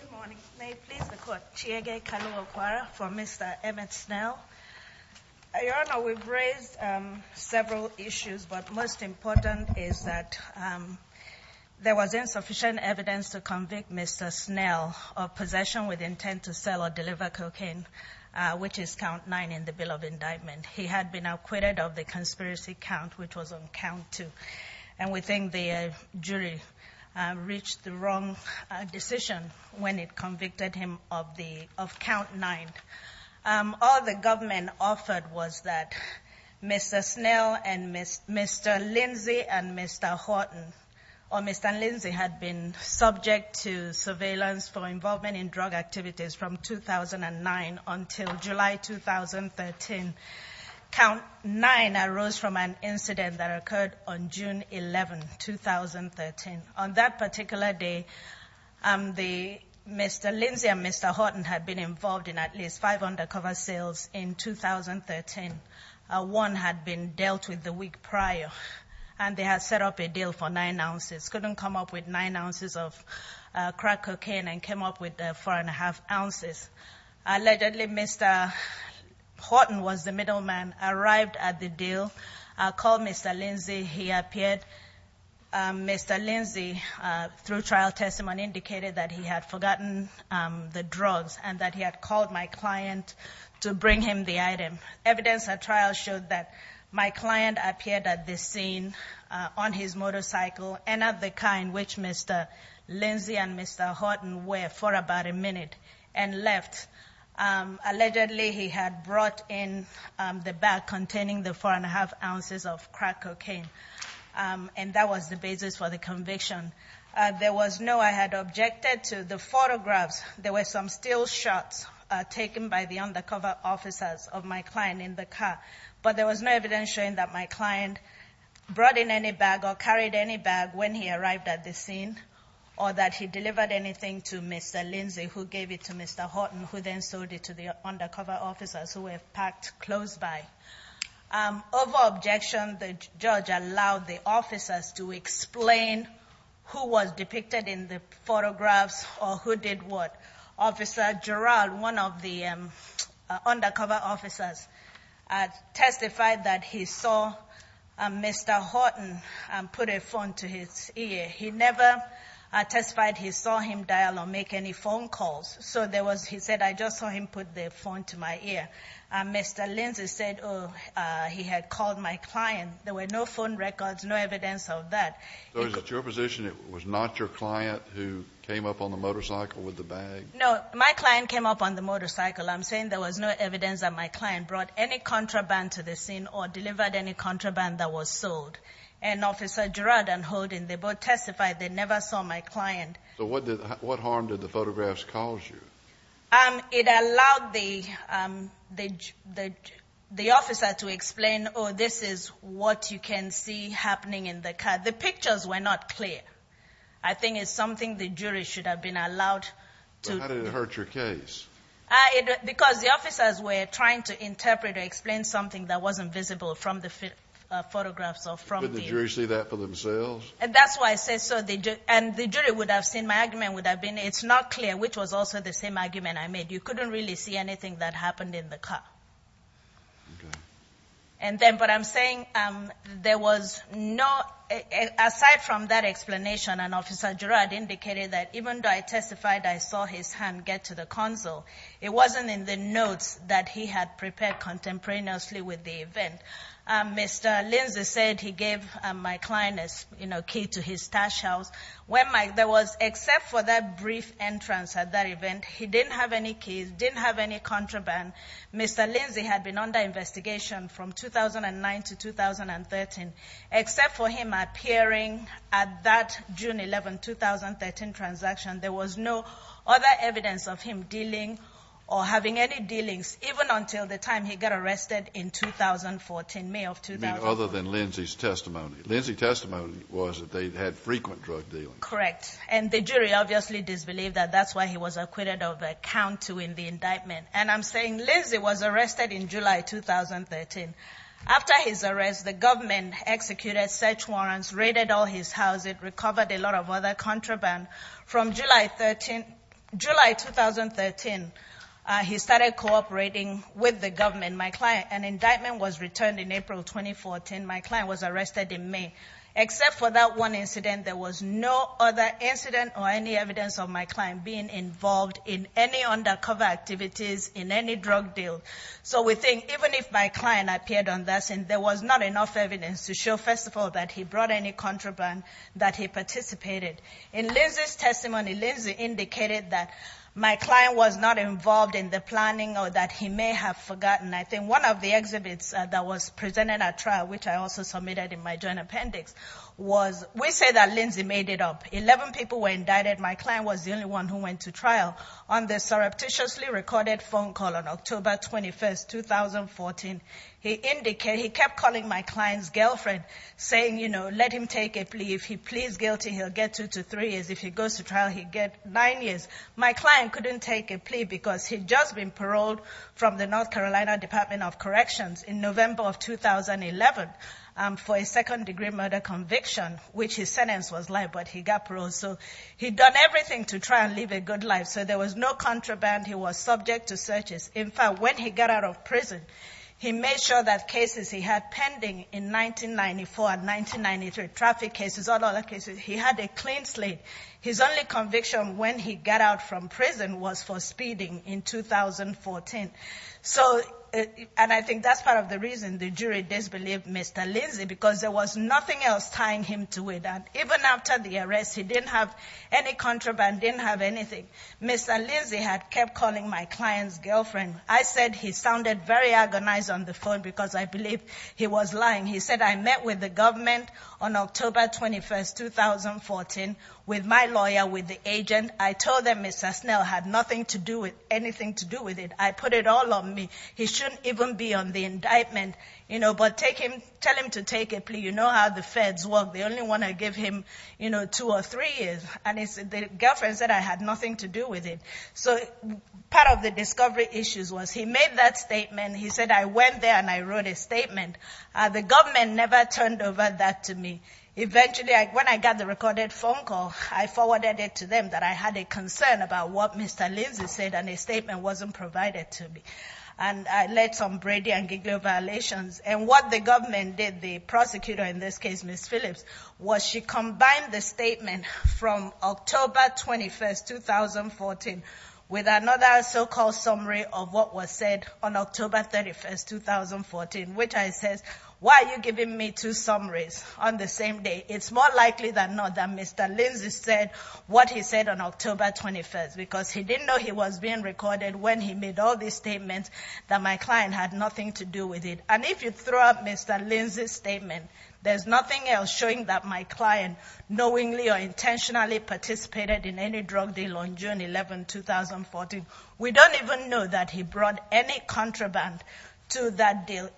Good morning. May it please the court, Chiege Kalua-Kwara for Mr. Emmith Snell. Your Honor, we've raised several issues, but most important is that there was insufficient evidence to convict Mr. Snell of possession with intent to sell or deliver cocaine, which is count 9 in the Bill of Indictment. He had been acquitted of the conspiracy count, which was on count 2. And we think the jury reached the wrong decision when it convicted him of count 9. All the government offered was that Mr. Snell and Mr. Lindsey and Mr. Horton or Mr. Lindsey had been subject to surveillance for involvement in drug activities from 2009 until July 2013. Count 9 arose from an incident that occurred on June 11, 2013. On that particular day, Mr. Lindsey and Mr. Horton had been involved in at least five undercover sales in 2013. One had been dealt with the week prior, and they had set up a deal for nine ounces, couldn't come up with nine ounces of crack cocaine, and came up with four and a half ounces. Allegedly, Mr. Horton was the middleman, arrived at the deal, called Mr. Lindsey. He appeared. Mr. Lindsey, through trial testimony, indicated that he had forgotten the drugs and that he had called my client to bring him the item. Evidence at trial showed that my client appeared at this scene on his motorcycle and at the car in which Mr. Lindsey and Mr. Horton were for about a minute and left. Allegedly, he had brought in the bag containing the four and a half ounces of crack cocaine, and that was the basis for the conviction. There was no, I had objected to the photographs. There were some still shots taken by the undercover officers of my client in the car, but there was no evidence showing that my client brought in any bag or carried any bag when he arrived at the scene, or that he delivered anything to Mr. Lindsey, who gave it to Mr. Horton, who then sold it to the undercover officers who were parked close by. Over objection, the judge allowed the officers to explain who was depicted in the photographs or who did what. Officer Gerald, one of the undercover officers, testified that he saw Mr. Horton put a phone to his ear. He never testified he saw him dial or make any phone calls, so there was, he said, I just saw him put the phone to my ear. Mr. Lindsey said, oh, he had called my client. There were no phone records, no evidence of that. So is it your position it was not your client who came up on the motorcycle with the bag? No, my client came up on the motorcycle. I'm saying there was no evidence that my client brought any contraband to the scene or delivered any contraband that was sold. And Officer Gerald and Horton, they both testified they never saw my client. So what harm did the photographs cause you? It allowed the officer to explain, oh, this is what you can see happening in the car. The pictures were not clear. I think it's something the jury should have been allowed to. But how did it hurt your case? Because the officers were trying to interpret or explain something that wasn't visible from the photographs or from the... Couldn't the jury see that for themselves? That's why I say so. And the jury would have seen my argument would have been it's not clear, which was also the same argument I made. You couldn't really see anything that happened in the car. Okay. But I'm saying there was no... Aside from that explanation, and Officer Gerald indicated that even though I testified I saw his hand get to the console, it wasn't in the notes that he had prepared contemporaneously with the event. Mr. Lindsay said he gave my client a key to his stash house. Except for that brief entrance at that event, he didn't have any keys, didn't have any contraband. Mr. Lindsay had been under investigation from 2009 to 2013. Except for him appearing at that June 11, 2013 transaction, there was no other evidence of him dealing or having any dealings, even until the time he got arrested in 2014, May of 2014. You mean other than Lindsay's testimony. Lindsay's testimony was that they had frequent drug dealings. Correct. And the jury obviously disbelieved that. That's why he was acquitted of a count to win the indictment. And I'm saying Lindsay was arrested in July 2013. After his arrest, the government executed search warrants, raided all his houses, recovered a lot of other contraband. From July 2013, he started cooperating with the government. An indictment was returned in April 2014. My client was arrested in May. Except for that one incident, there was no other incident or any evidence of my client being involved in any undercover activities, in any drug deal. So we think even if my client appeared on that scene, there was not enough evidence to show, first of all, that he brought any contraband, that he participated. In Lindsay's testimony, Lindsay indicated that my client was not involved in the planning or that he may have forgotten. I think one of the exhibits that was presented at trial, which I also submitted in my joint appendix, was we say that Lindsay made it up. Eleven people were indicted. My client was the only one who went to trial. On the surreptitiously recorded phone call on October 21, 2014, he kept calling my client's girlfriend, saying, you know, let him take a plea. If he pleads guilty, he'll get two to three years. If he goes to trial, he'll get nine years. My client couldn't take a plea because he'd just been paroled from the North Carolina Department of Corrections in November of 2011 for a second-degree murder conviction, which his sentence was life, but he got paroled. So he'd done everything to try and live a good life. So there was no contraband. He was subject to searches. In fact, when he got out of prison, he made sure that cases he had pending in 1994 and 1993, traffic cases, all the other cases, he had a clean slate. His only conviction when he got out from prison was for speeding in 2014. So, and I think that's part of the reason the jury disbelieved Mr. Lindsay, because there was nothing else tying him to it. And even after the arrest, he didn't have any contraband, didn't have anything. Mr. Lindsay had kept calling my client's girlfriend. I said he sounded very agonized on the phone because I believed he was lying. He said, I met with the government on October 21, 2014, with my lawyer, with the agent. I told them Mr. Snell had nothing to do with it, anything to do with it. I put it all on me. He shouldn't even be on the indictment, you know, but take him, tell him to take a plea. You know how the feds work. They only want to give him, you know, two or three years. And his girlfriend said I had nothing to do with it. So part of the discovery issues was he made that statement. He said I went there and I wrote a statement. The government never turned over that to me. Eventually, when I got the recorded phone call, I forwarded it to them that I had a concern about what Mr. Lindsay said and a statement wasn't provided to me. And I led some Brady and Giglio violations. And what the government did, the prosecutor in this case, Ms. Phillips, was she combined the statement from October 21, 2014, with another so-called summary of what was said on October 31, 2014, which I said, why are you giving me two summaries on the same day? It's more likely than not that Mr. Lindsay said what he said on October 21, because he didn't know he was being recorded when he made all these statements that my client had nothing to do with it. And if you throw out Mr. Lindsay's statement, there's nothing else showing that my client knowingly or intentionally participated in any drug deal on June 11, 2014. We don't even know that he brought any contraband to that deal.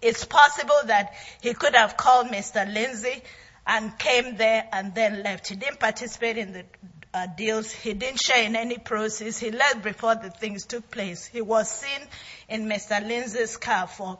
It's possible that he could have called Mr. Lindsay and came there and then left. He didn't participate in the deals. He didn't share in any proceeds. He left before the things took place. He was seen in Mr. Lindsay's car for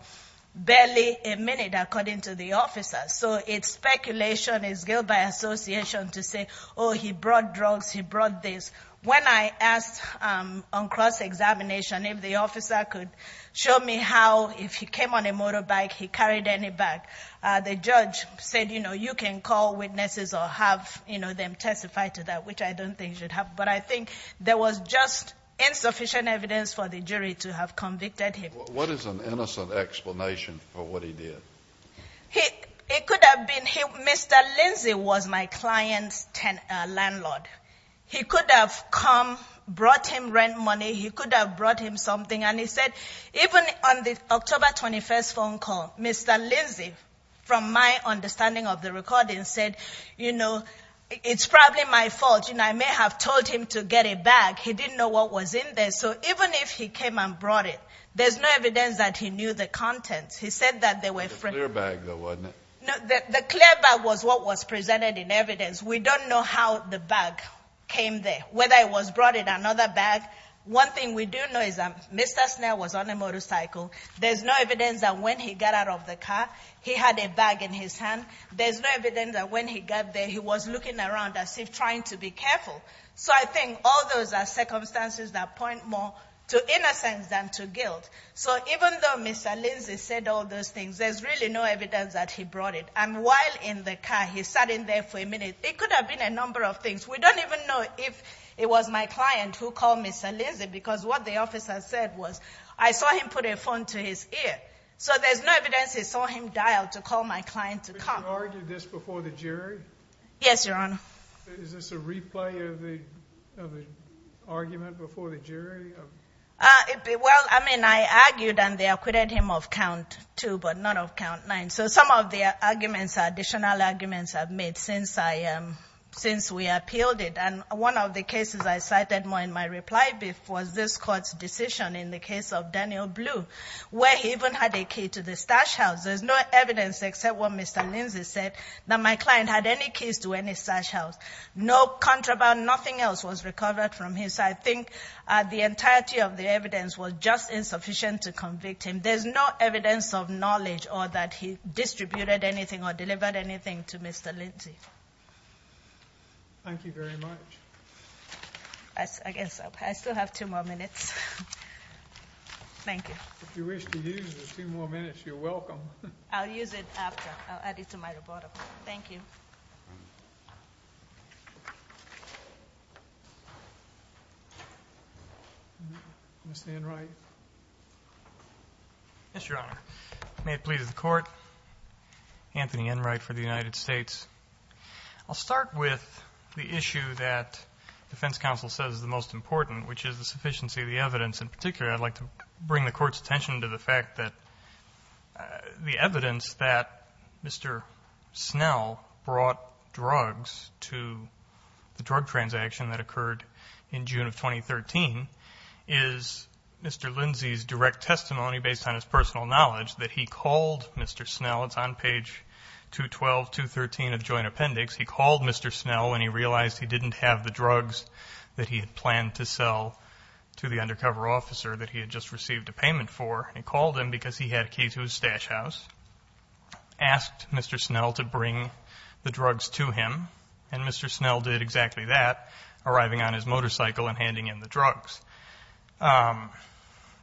barely a minute, according to the officers. So it's speculation, it's guilt by association to say, oh, he brought drugs, he brought this. When I asked on cross-examination if the officer could show me how, if he came on a motorbike, he carried any bag, the judge said, you know, you can call witnesses or have, you know, them testify to that, which I don't think should happen. But I think there was just insufficient evidence for the jury to have convicted him. What is an innocent explanation for what he did? It could have been Mr. Lindsay was my client's landlord. He could have come, brought him rent money, he could have brought him something, and he said even on the October 21st phone call, Mr. Lindsay, from my understanding of the recording, said, you know, it's probably my fault, you know, I may have told him to get a bag. He didn't know what was in there. So even if he came and brought it, there's no evidence that he knew the contents. He said that they were ---- The clear bag, though, wasn't it? No, the clear bag was what was presented in evidence. We don't know how the bag came there, whether it was brought in another bag. One thing we do know is that Mr. Snell was on a motorcycle. There's no evidence that when he got out of the car, he had a bag in his hand. There's no evidence that when he got there, he was looking around as if trying to be careful. So I think all those are circumstances that point more to innocence than to guilt. So even though Mr. Lindsay said all those things, there's really no evidence that he brought it. And while in the car, he sat in there for a minute. It could have been a number of things. We don't even know if it was my client who called Mr. Lindsay because what the officer said was I saw him put a phone to his ear. So there's no evidence he saw him dial to call my client to come. But you argued this before the jury? Yes, Your Honor. Is this a replay of the argument before the jury? Well, I mean, I argued and they acquitted him of count two but not of count nine. So some of the arguments are additional arguments I've made since we appealed it. And one of the cases I cited more in my reply was this court's decision in the case of Daniel Blue where he even had a key to the stash house. There's no evidence except what Mr. Lindsay said, that my client had any keys to any stash house. No contraband, nothing else was recovered from his. I think the entirety of the evidence was just insufficient to convict him. There's no evidence of knowledge or that he distributed anything or delivered anything to Mr. Lindsay. Thank you very much. I guess I still have two more minutes. Thank you. If you wish to use the two more minutes, you're welcome. I'll use it after. I'll add it to my report. Thank you. Mr. Enright. Yes, Your Honor. May it please the Court. Anthony Enright for the United States. I'll start with the issue that defense counsel says is the most important, which is the sufficiency of the evidence. In particular, I'd like to bring the Court's attention to the fact that the evidence that Mr. Snell brought drugs to the drug transaction that occurred in June of 2013 is Mr. Lindsay's direct testimony, based on his personal knowledge, that he called Mr. Snell. It's on page 212, 213 of the joint appendix. He called Mr. Snell when he realized he didn't have the drugs that he had planned to sell to the undercover officer that he had just received a payment for. He called him because he had a key to his stash house, asked Mr. Snell to bring the drugs to him, and Mr. Snell did exactly that, arriving on his motorcycle and handing him the drugs.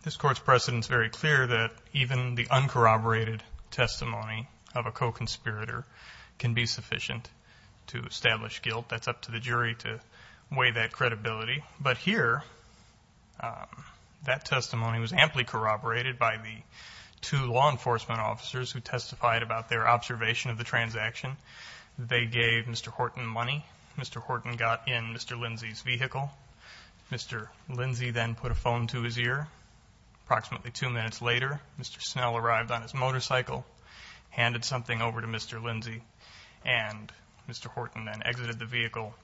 This Court's precedent is very clear that even the uncorroborated testimony of a co-conspirator can be sufficient to establish guilt. That's up to the jury to weigh that credibility. But here, that testimony was amply corroborated by the two law enforcement officers who testified about their observation of the transaction. They gave Mr. Horton money. Mr. Horton got in Mr. Lindsay's vehicle. Mr. Lindsay then put a phone to his ear. Approximately two minutes later, Mr. Snell arrived on his motorcycle, handed something over to Mr. Lindsay, and Mr. Horton then exited the vehicle,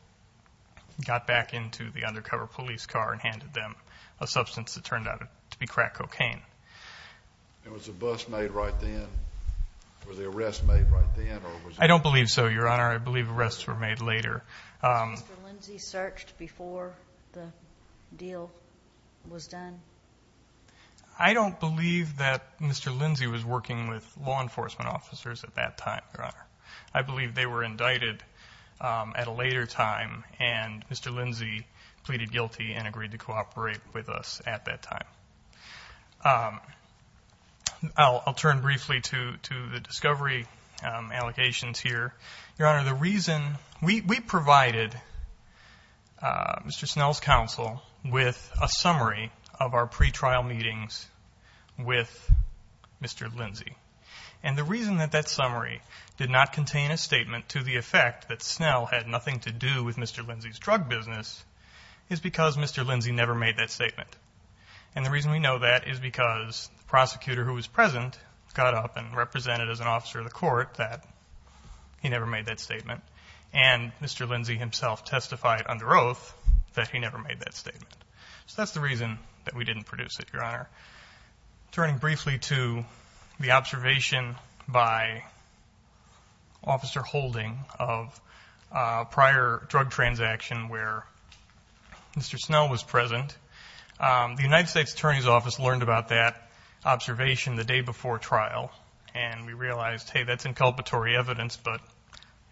got back into the undercover police car, and handed them a substance that turned out to be crack cocaine. Was the bus made right then? Was the arrest made right then? I don't believe so, Your Honor. I believe arrests were made later. Was Mr. Lindsay searched before the deal was done? I don't believe that Mr. Lindsay was working with law enforcement officers at that time, Your Honor. I believe they were indicted at a later time, and Mr. Lindsay pleaded guilty and agreed to cooperate with us at that time. I'll turn briefly to the discovery allocations here. Your Honor, the reason we provided Mr. Snell's counsel with a summary of our pretrial meetings with Mr. Lindsay, and the reason that that summary did not contain a statement to the effect that Snell had nothing to do with Mr. Lindsay's drug business is because Mr. Lindsay never made that statement. And the reason we know that is because the prosecutor who was present got up and represented as an officer of the court that he never made that statement, and Mr. Lindsay himself testified under oath that he never made that statement. So that's the reason that we didn't produce it, Your Honor. Turning briefly to the observation by Officer Holding of a prior drug transaction where Mr. Snell was present, the United States Attorney's Office learned about that observation the day before trial, and we realized, hey, that's inculpatory evidence, but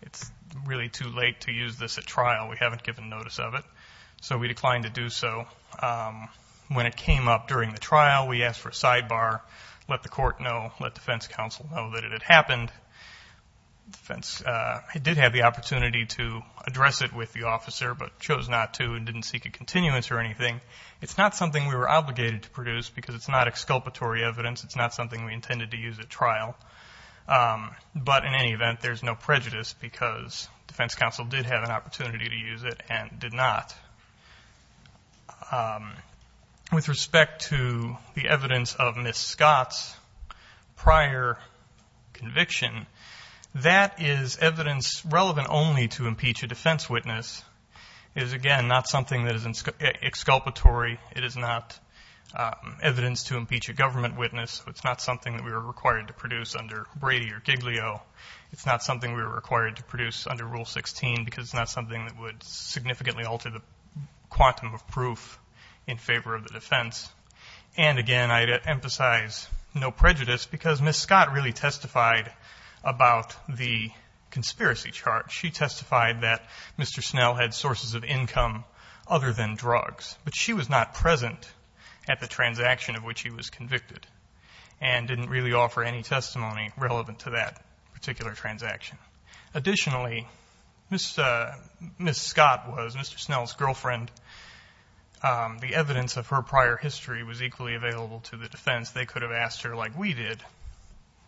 it's really too late to use this at trial. We haven't given notice of it, so we declined to do so. When it came up during the trial, we asked for a sidebar, let the court know, let defense counsel know that it had happened. Defense did have the opportunity to address it with the officer but chose not to and didn't seek a continuance or anything. It's not something we were obligated to produce because it's not exculpatory evidence. It's not something we intended to use at trial. But in any event, there's no prejudice because defense counsel did have an opportunity to use it and did not. With respect to the evidence of Ms. Scott's prior conviction, that is evidence relevant only to impeach a defense witness. It is, again, not something that is exculpatory. It is not evidence to impeach a government witness. It's not something that we were required to produce under Brady or Giglio. It's not something we were required to produce under Rule 16 because it's not something that would significantly alter the quantum of proof in favor of the defense. And, again, I'd emphasize no prejudice because Ms. Scott really testified about the conspiracy charge. She testified that Mr. Snell had sources of income other than drugs, but she was not present at the transaction of which he was convicted and didn't really offer any testimony relevant to that particular transaction. Additionally, Ms. Scott was Mr. Snell's girlfriend. The evidence of her prior history was equally available to the defense. They could have asked her, like we did,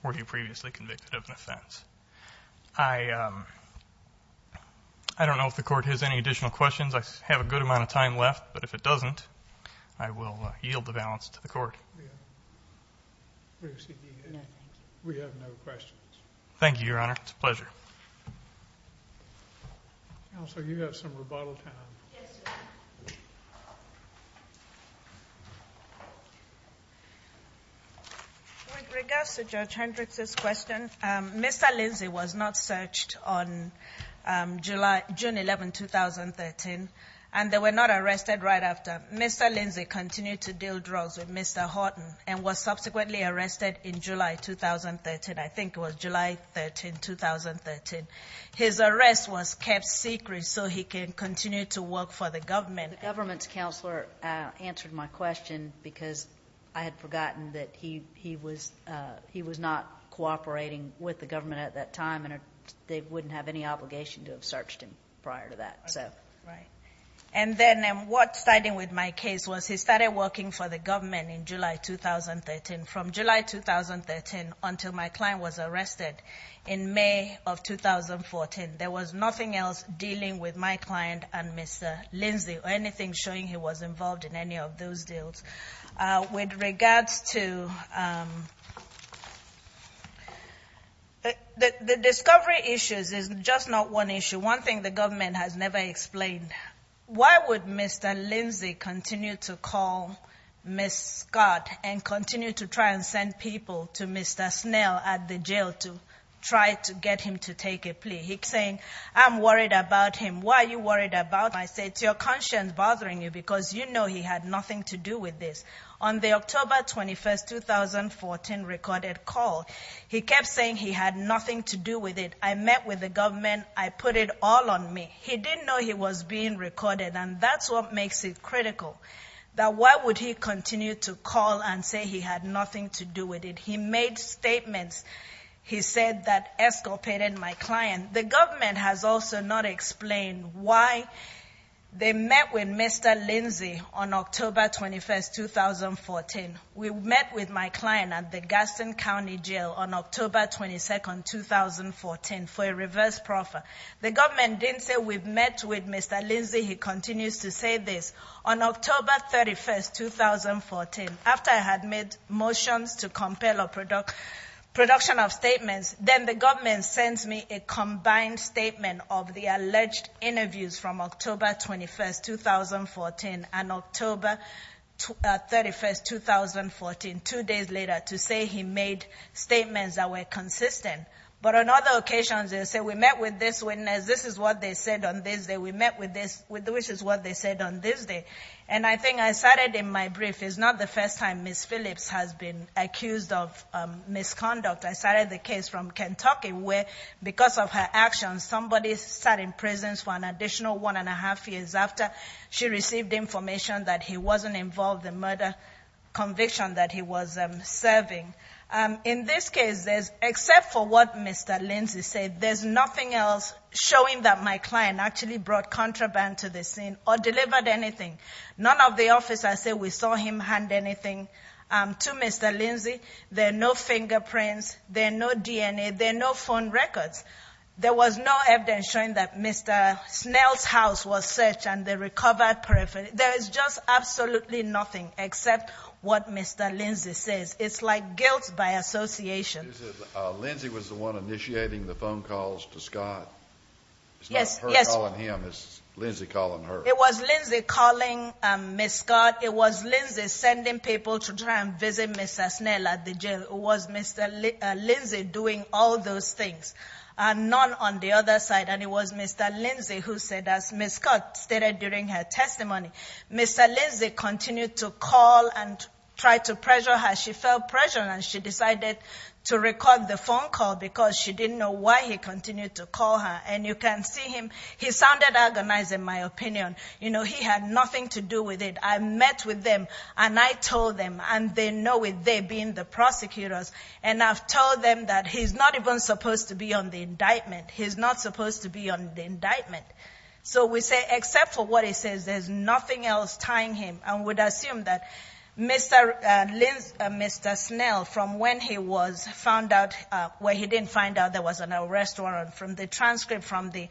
were you previously convicted of an offense? I don't know if the Court has any additional questions. I have a good amount of time left, but if it doesn't, I will yield the balance to the Court. We have no questions. Thank you, Your Honor. It's a pleasure. Counsel, you have some rebuttal time. Yes, sir. With regards to Judge Hendricks' question, Mr. Lindsay was not searched on June 11, 2013, and they were not arrested right after. Mr. Lindsay continued to deal drugs with Mr. Horton and was subsequently arrested in July 2013. I think it was July 13, 2013. His arrest was kept secret so he could continue to work for the government. The government's counselor answered my question because I had forgotten that he was not cooperating with the government at that time, and they wouldn't have any obligation to have searched him prior to that. Okay, right. And then what started with my case was he started working for the government in July 2013. From July 2013 until my client was arrested in May of 2014, there was nothing else dealing with my client and Mr. Lindsay or anything showing he was involved in any of those deals. With regards to the discovery issues, it's just not one issue. One thing the government has never explained. Why would Mr. Lindsay continue to call Ms. Scott and continue to try and send people to Mr. Snell at the jail to try to get him to take a plea? He's saying, I'm worried about him. Why are you worried about him? I say, it's your conscience bothering you because you know he had nothing to do with this. On the October 21, 2014 recorded call, he kept saying he had nothing to do with it. I met with the government. I put it all on me. He didn't know he was being recorded, and that's what makes it critical, that why would he continue to call and say he had nothing to do with it. He made statements. He said that escapaded my client. The government has also not explained why they met with Mr. Lindsay on October 21, 2014. We met with my client at the Gaston County Jail on October 22, 2014 for a reverse proffer. The government didn't say we've met with Mr. Lindsay. He continues to say this. On October 31, 2014, after I had made motions to compel a production of statements, then the government sends me a combined statement of the alleged interviews from October 21, 2014 and October 31, 2014, two days later, to say he made statements that were consistent. But on other occasions, they say we met with this witness. This is what they said on this day. We met with this, which is what they said on this day. And I think I cited in my brief, it's not the first time Ms. Phillips has been accused of misconduct. I cited the case from Kentucky where, because of her actions, somebody sat in prison for an additional one and a half years after she received information that he wasn't involved in the murder conviction that he was serving. In this case, except for what Mr. Lindsay said, there's nothing else showing that my client actually brought contraband to the scene or delivered anything. None of the officers say we saw him hand anything to Mr. Lindsay. There are no fingerprints. There are no DNA. There are no phone records. There was no evidence showing that Mr. Snell's house was searched and they recovered peripherally. There is just absolutely nothing except what Mr. Lindsay says. It's like guilt by association. Lindsay was the one initiating the phone calls to Scott. It's not her calling him. It's Lindsay calling her. It was Lindsay calling Ms. Scott. It was Lindsay sending people to try and visit Mr. Snell at the jail. It was Mr. Lindsay doing all those things. None on the other side. And it was Mr. Lindsay who said, as Ms. Scott stated during her testimony, Mr. Lindsay continued to call and try to pressure her. She felt pressured, and she decided to record the phone call because she didn't know why he continued to call her. And you can see him. He sounded agonized, in my opinion. You know, he had nothing to do with it. I met with them, and I told them, and they know it, they being the prosecutors. And I've told them that he's not even supposed to be on the indictment. He's not supposed to be on the indictment. So we say, except for what he says, there's nothing else tying him. I would assume that Mr. Snell, from when he was found out where he didn't find out there was an arrest warrant, from the transcript from the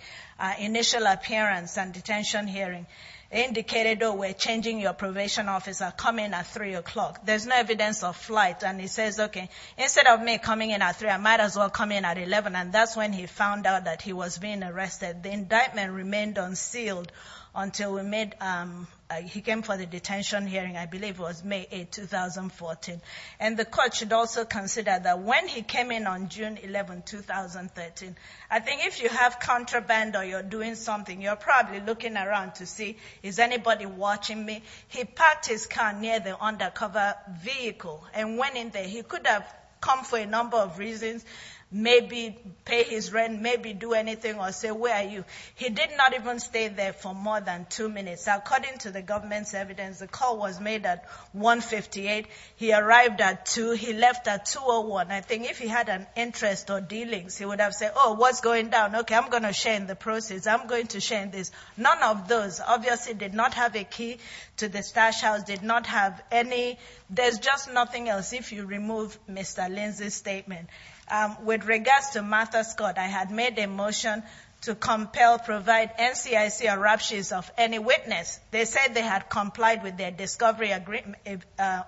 initial appearance and detention hearing, indicated, oh, we're changing your probation officer. Come in at 3 o'clock. There's no evidence of flight. And he says, okay, instead of me coming in at 3, I might as well come in at 11. And that's when he found out that he was being arrested. The indictment remained unsealed until he came for the detention hearing, I believe it was May 8, 2014. And the court should also consider that when he came in on June 11, 2013, I think if you have contraband or you're doing something, you're probably looking around to see, is anybody watching me? He parked his car near the undercover vehicle and went in there. He could have come for a number of reasons, maybe pay his rent, maybe do anything or say, where are you? He did not even stay there for more than two minutes. According to the government's evidence, the call was made at 1.58. He arrived at 2. He left at 2.01. I think if he had an interest or dealings, he would have said, oh, what's going down? Okay, I'm going to shame the process. I'm going to shame this. None of those obviously did not have a key to the stash house, did not have any. There's just nothing else if you remove Mr. Lindsay's statement. With regards to Martha Scott, I had made a motion to compel, provide NCIC or ruptures of any witness. They said they had complied with their discovery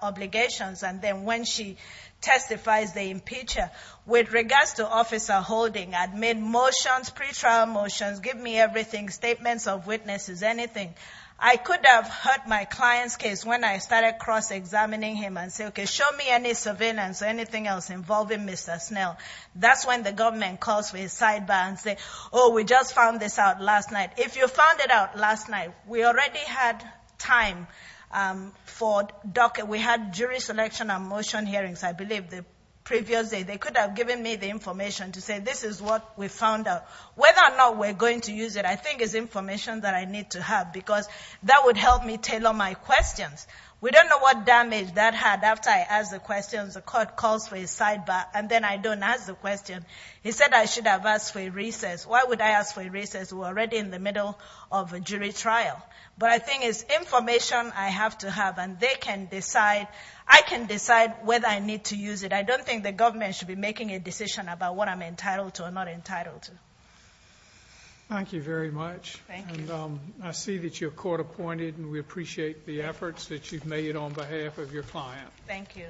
obligations. And then when she testifies, they impeach her. With regards to Officer Holding, I made motions, pretrial motions, give me everything, statements of witnesses, anything. I could have hurt my client's case when I started cross-examining him and say, okay, show me any surveillance or anything else involving Mr. Snell. That's when the government calls for his sidebar and say, oh, we just found this out last night. If you found it out last night, we already had time for docket. We had jury selection and motion hearings, I believe, the previous day. They could have given me the information to say this is what we found out. Whether or not we're going to use it, I think, is information that I need to have, because that would help me tailor my questions. We don't know what damage that had after I asked the questions. The court calls for his sidebar, and then I don't ask the question. He said I should have asked for a recess. Why would I ask for a recess? We're already in the middle of a jury trial. But I think it's information I have to have, and they can decide. I can decide whether I need to use it. But I don't think the government should be making a decision about what I'm entitled to or not entitled to. Thank you very much. Thank you. I see that you're court appointed, and we appreciate the efforts that you've made on behalf of your client. Thank you.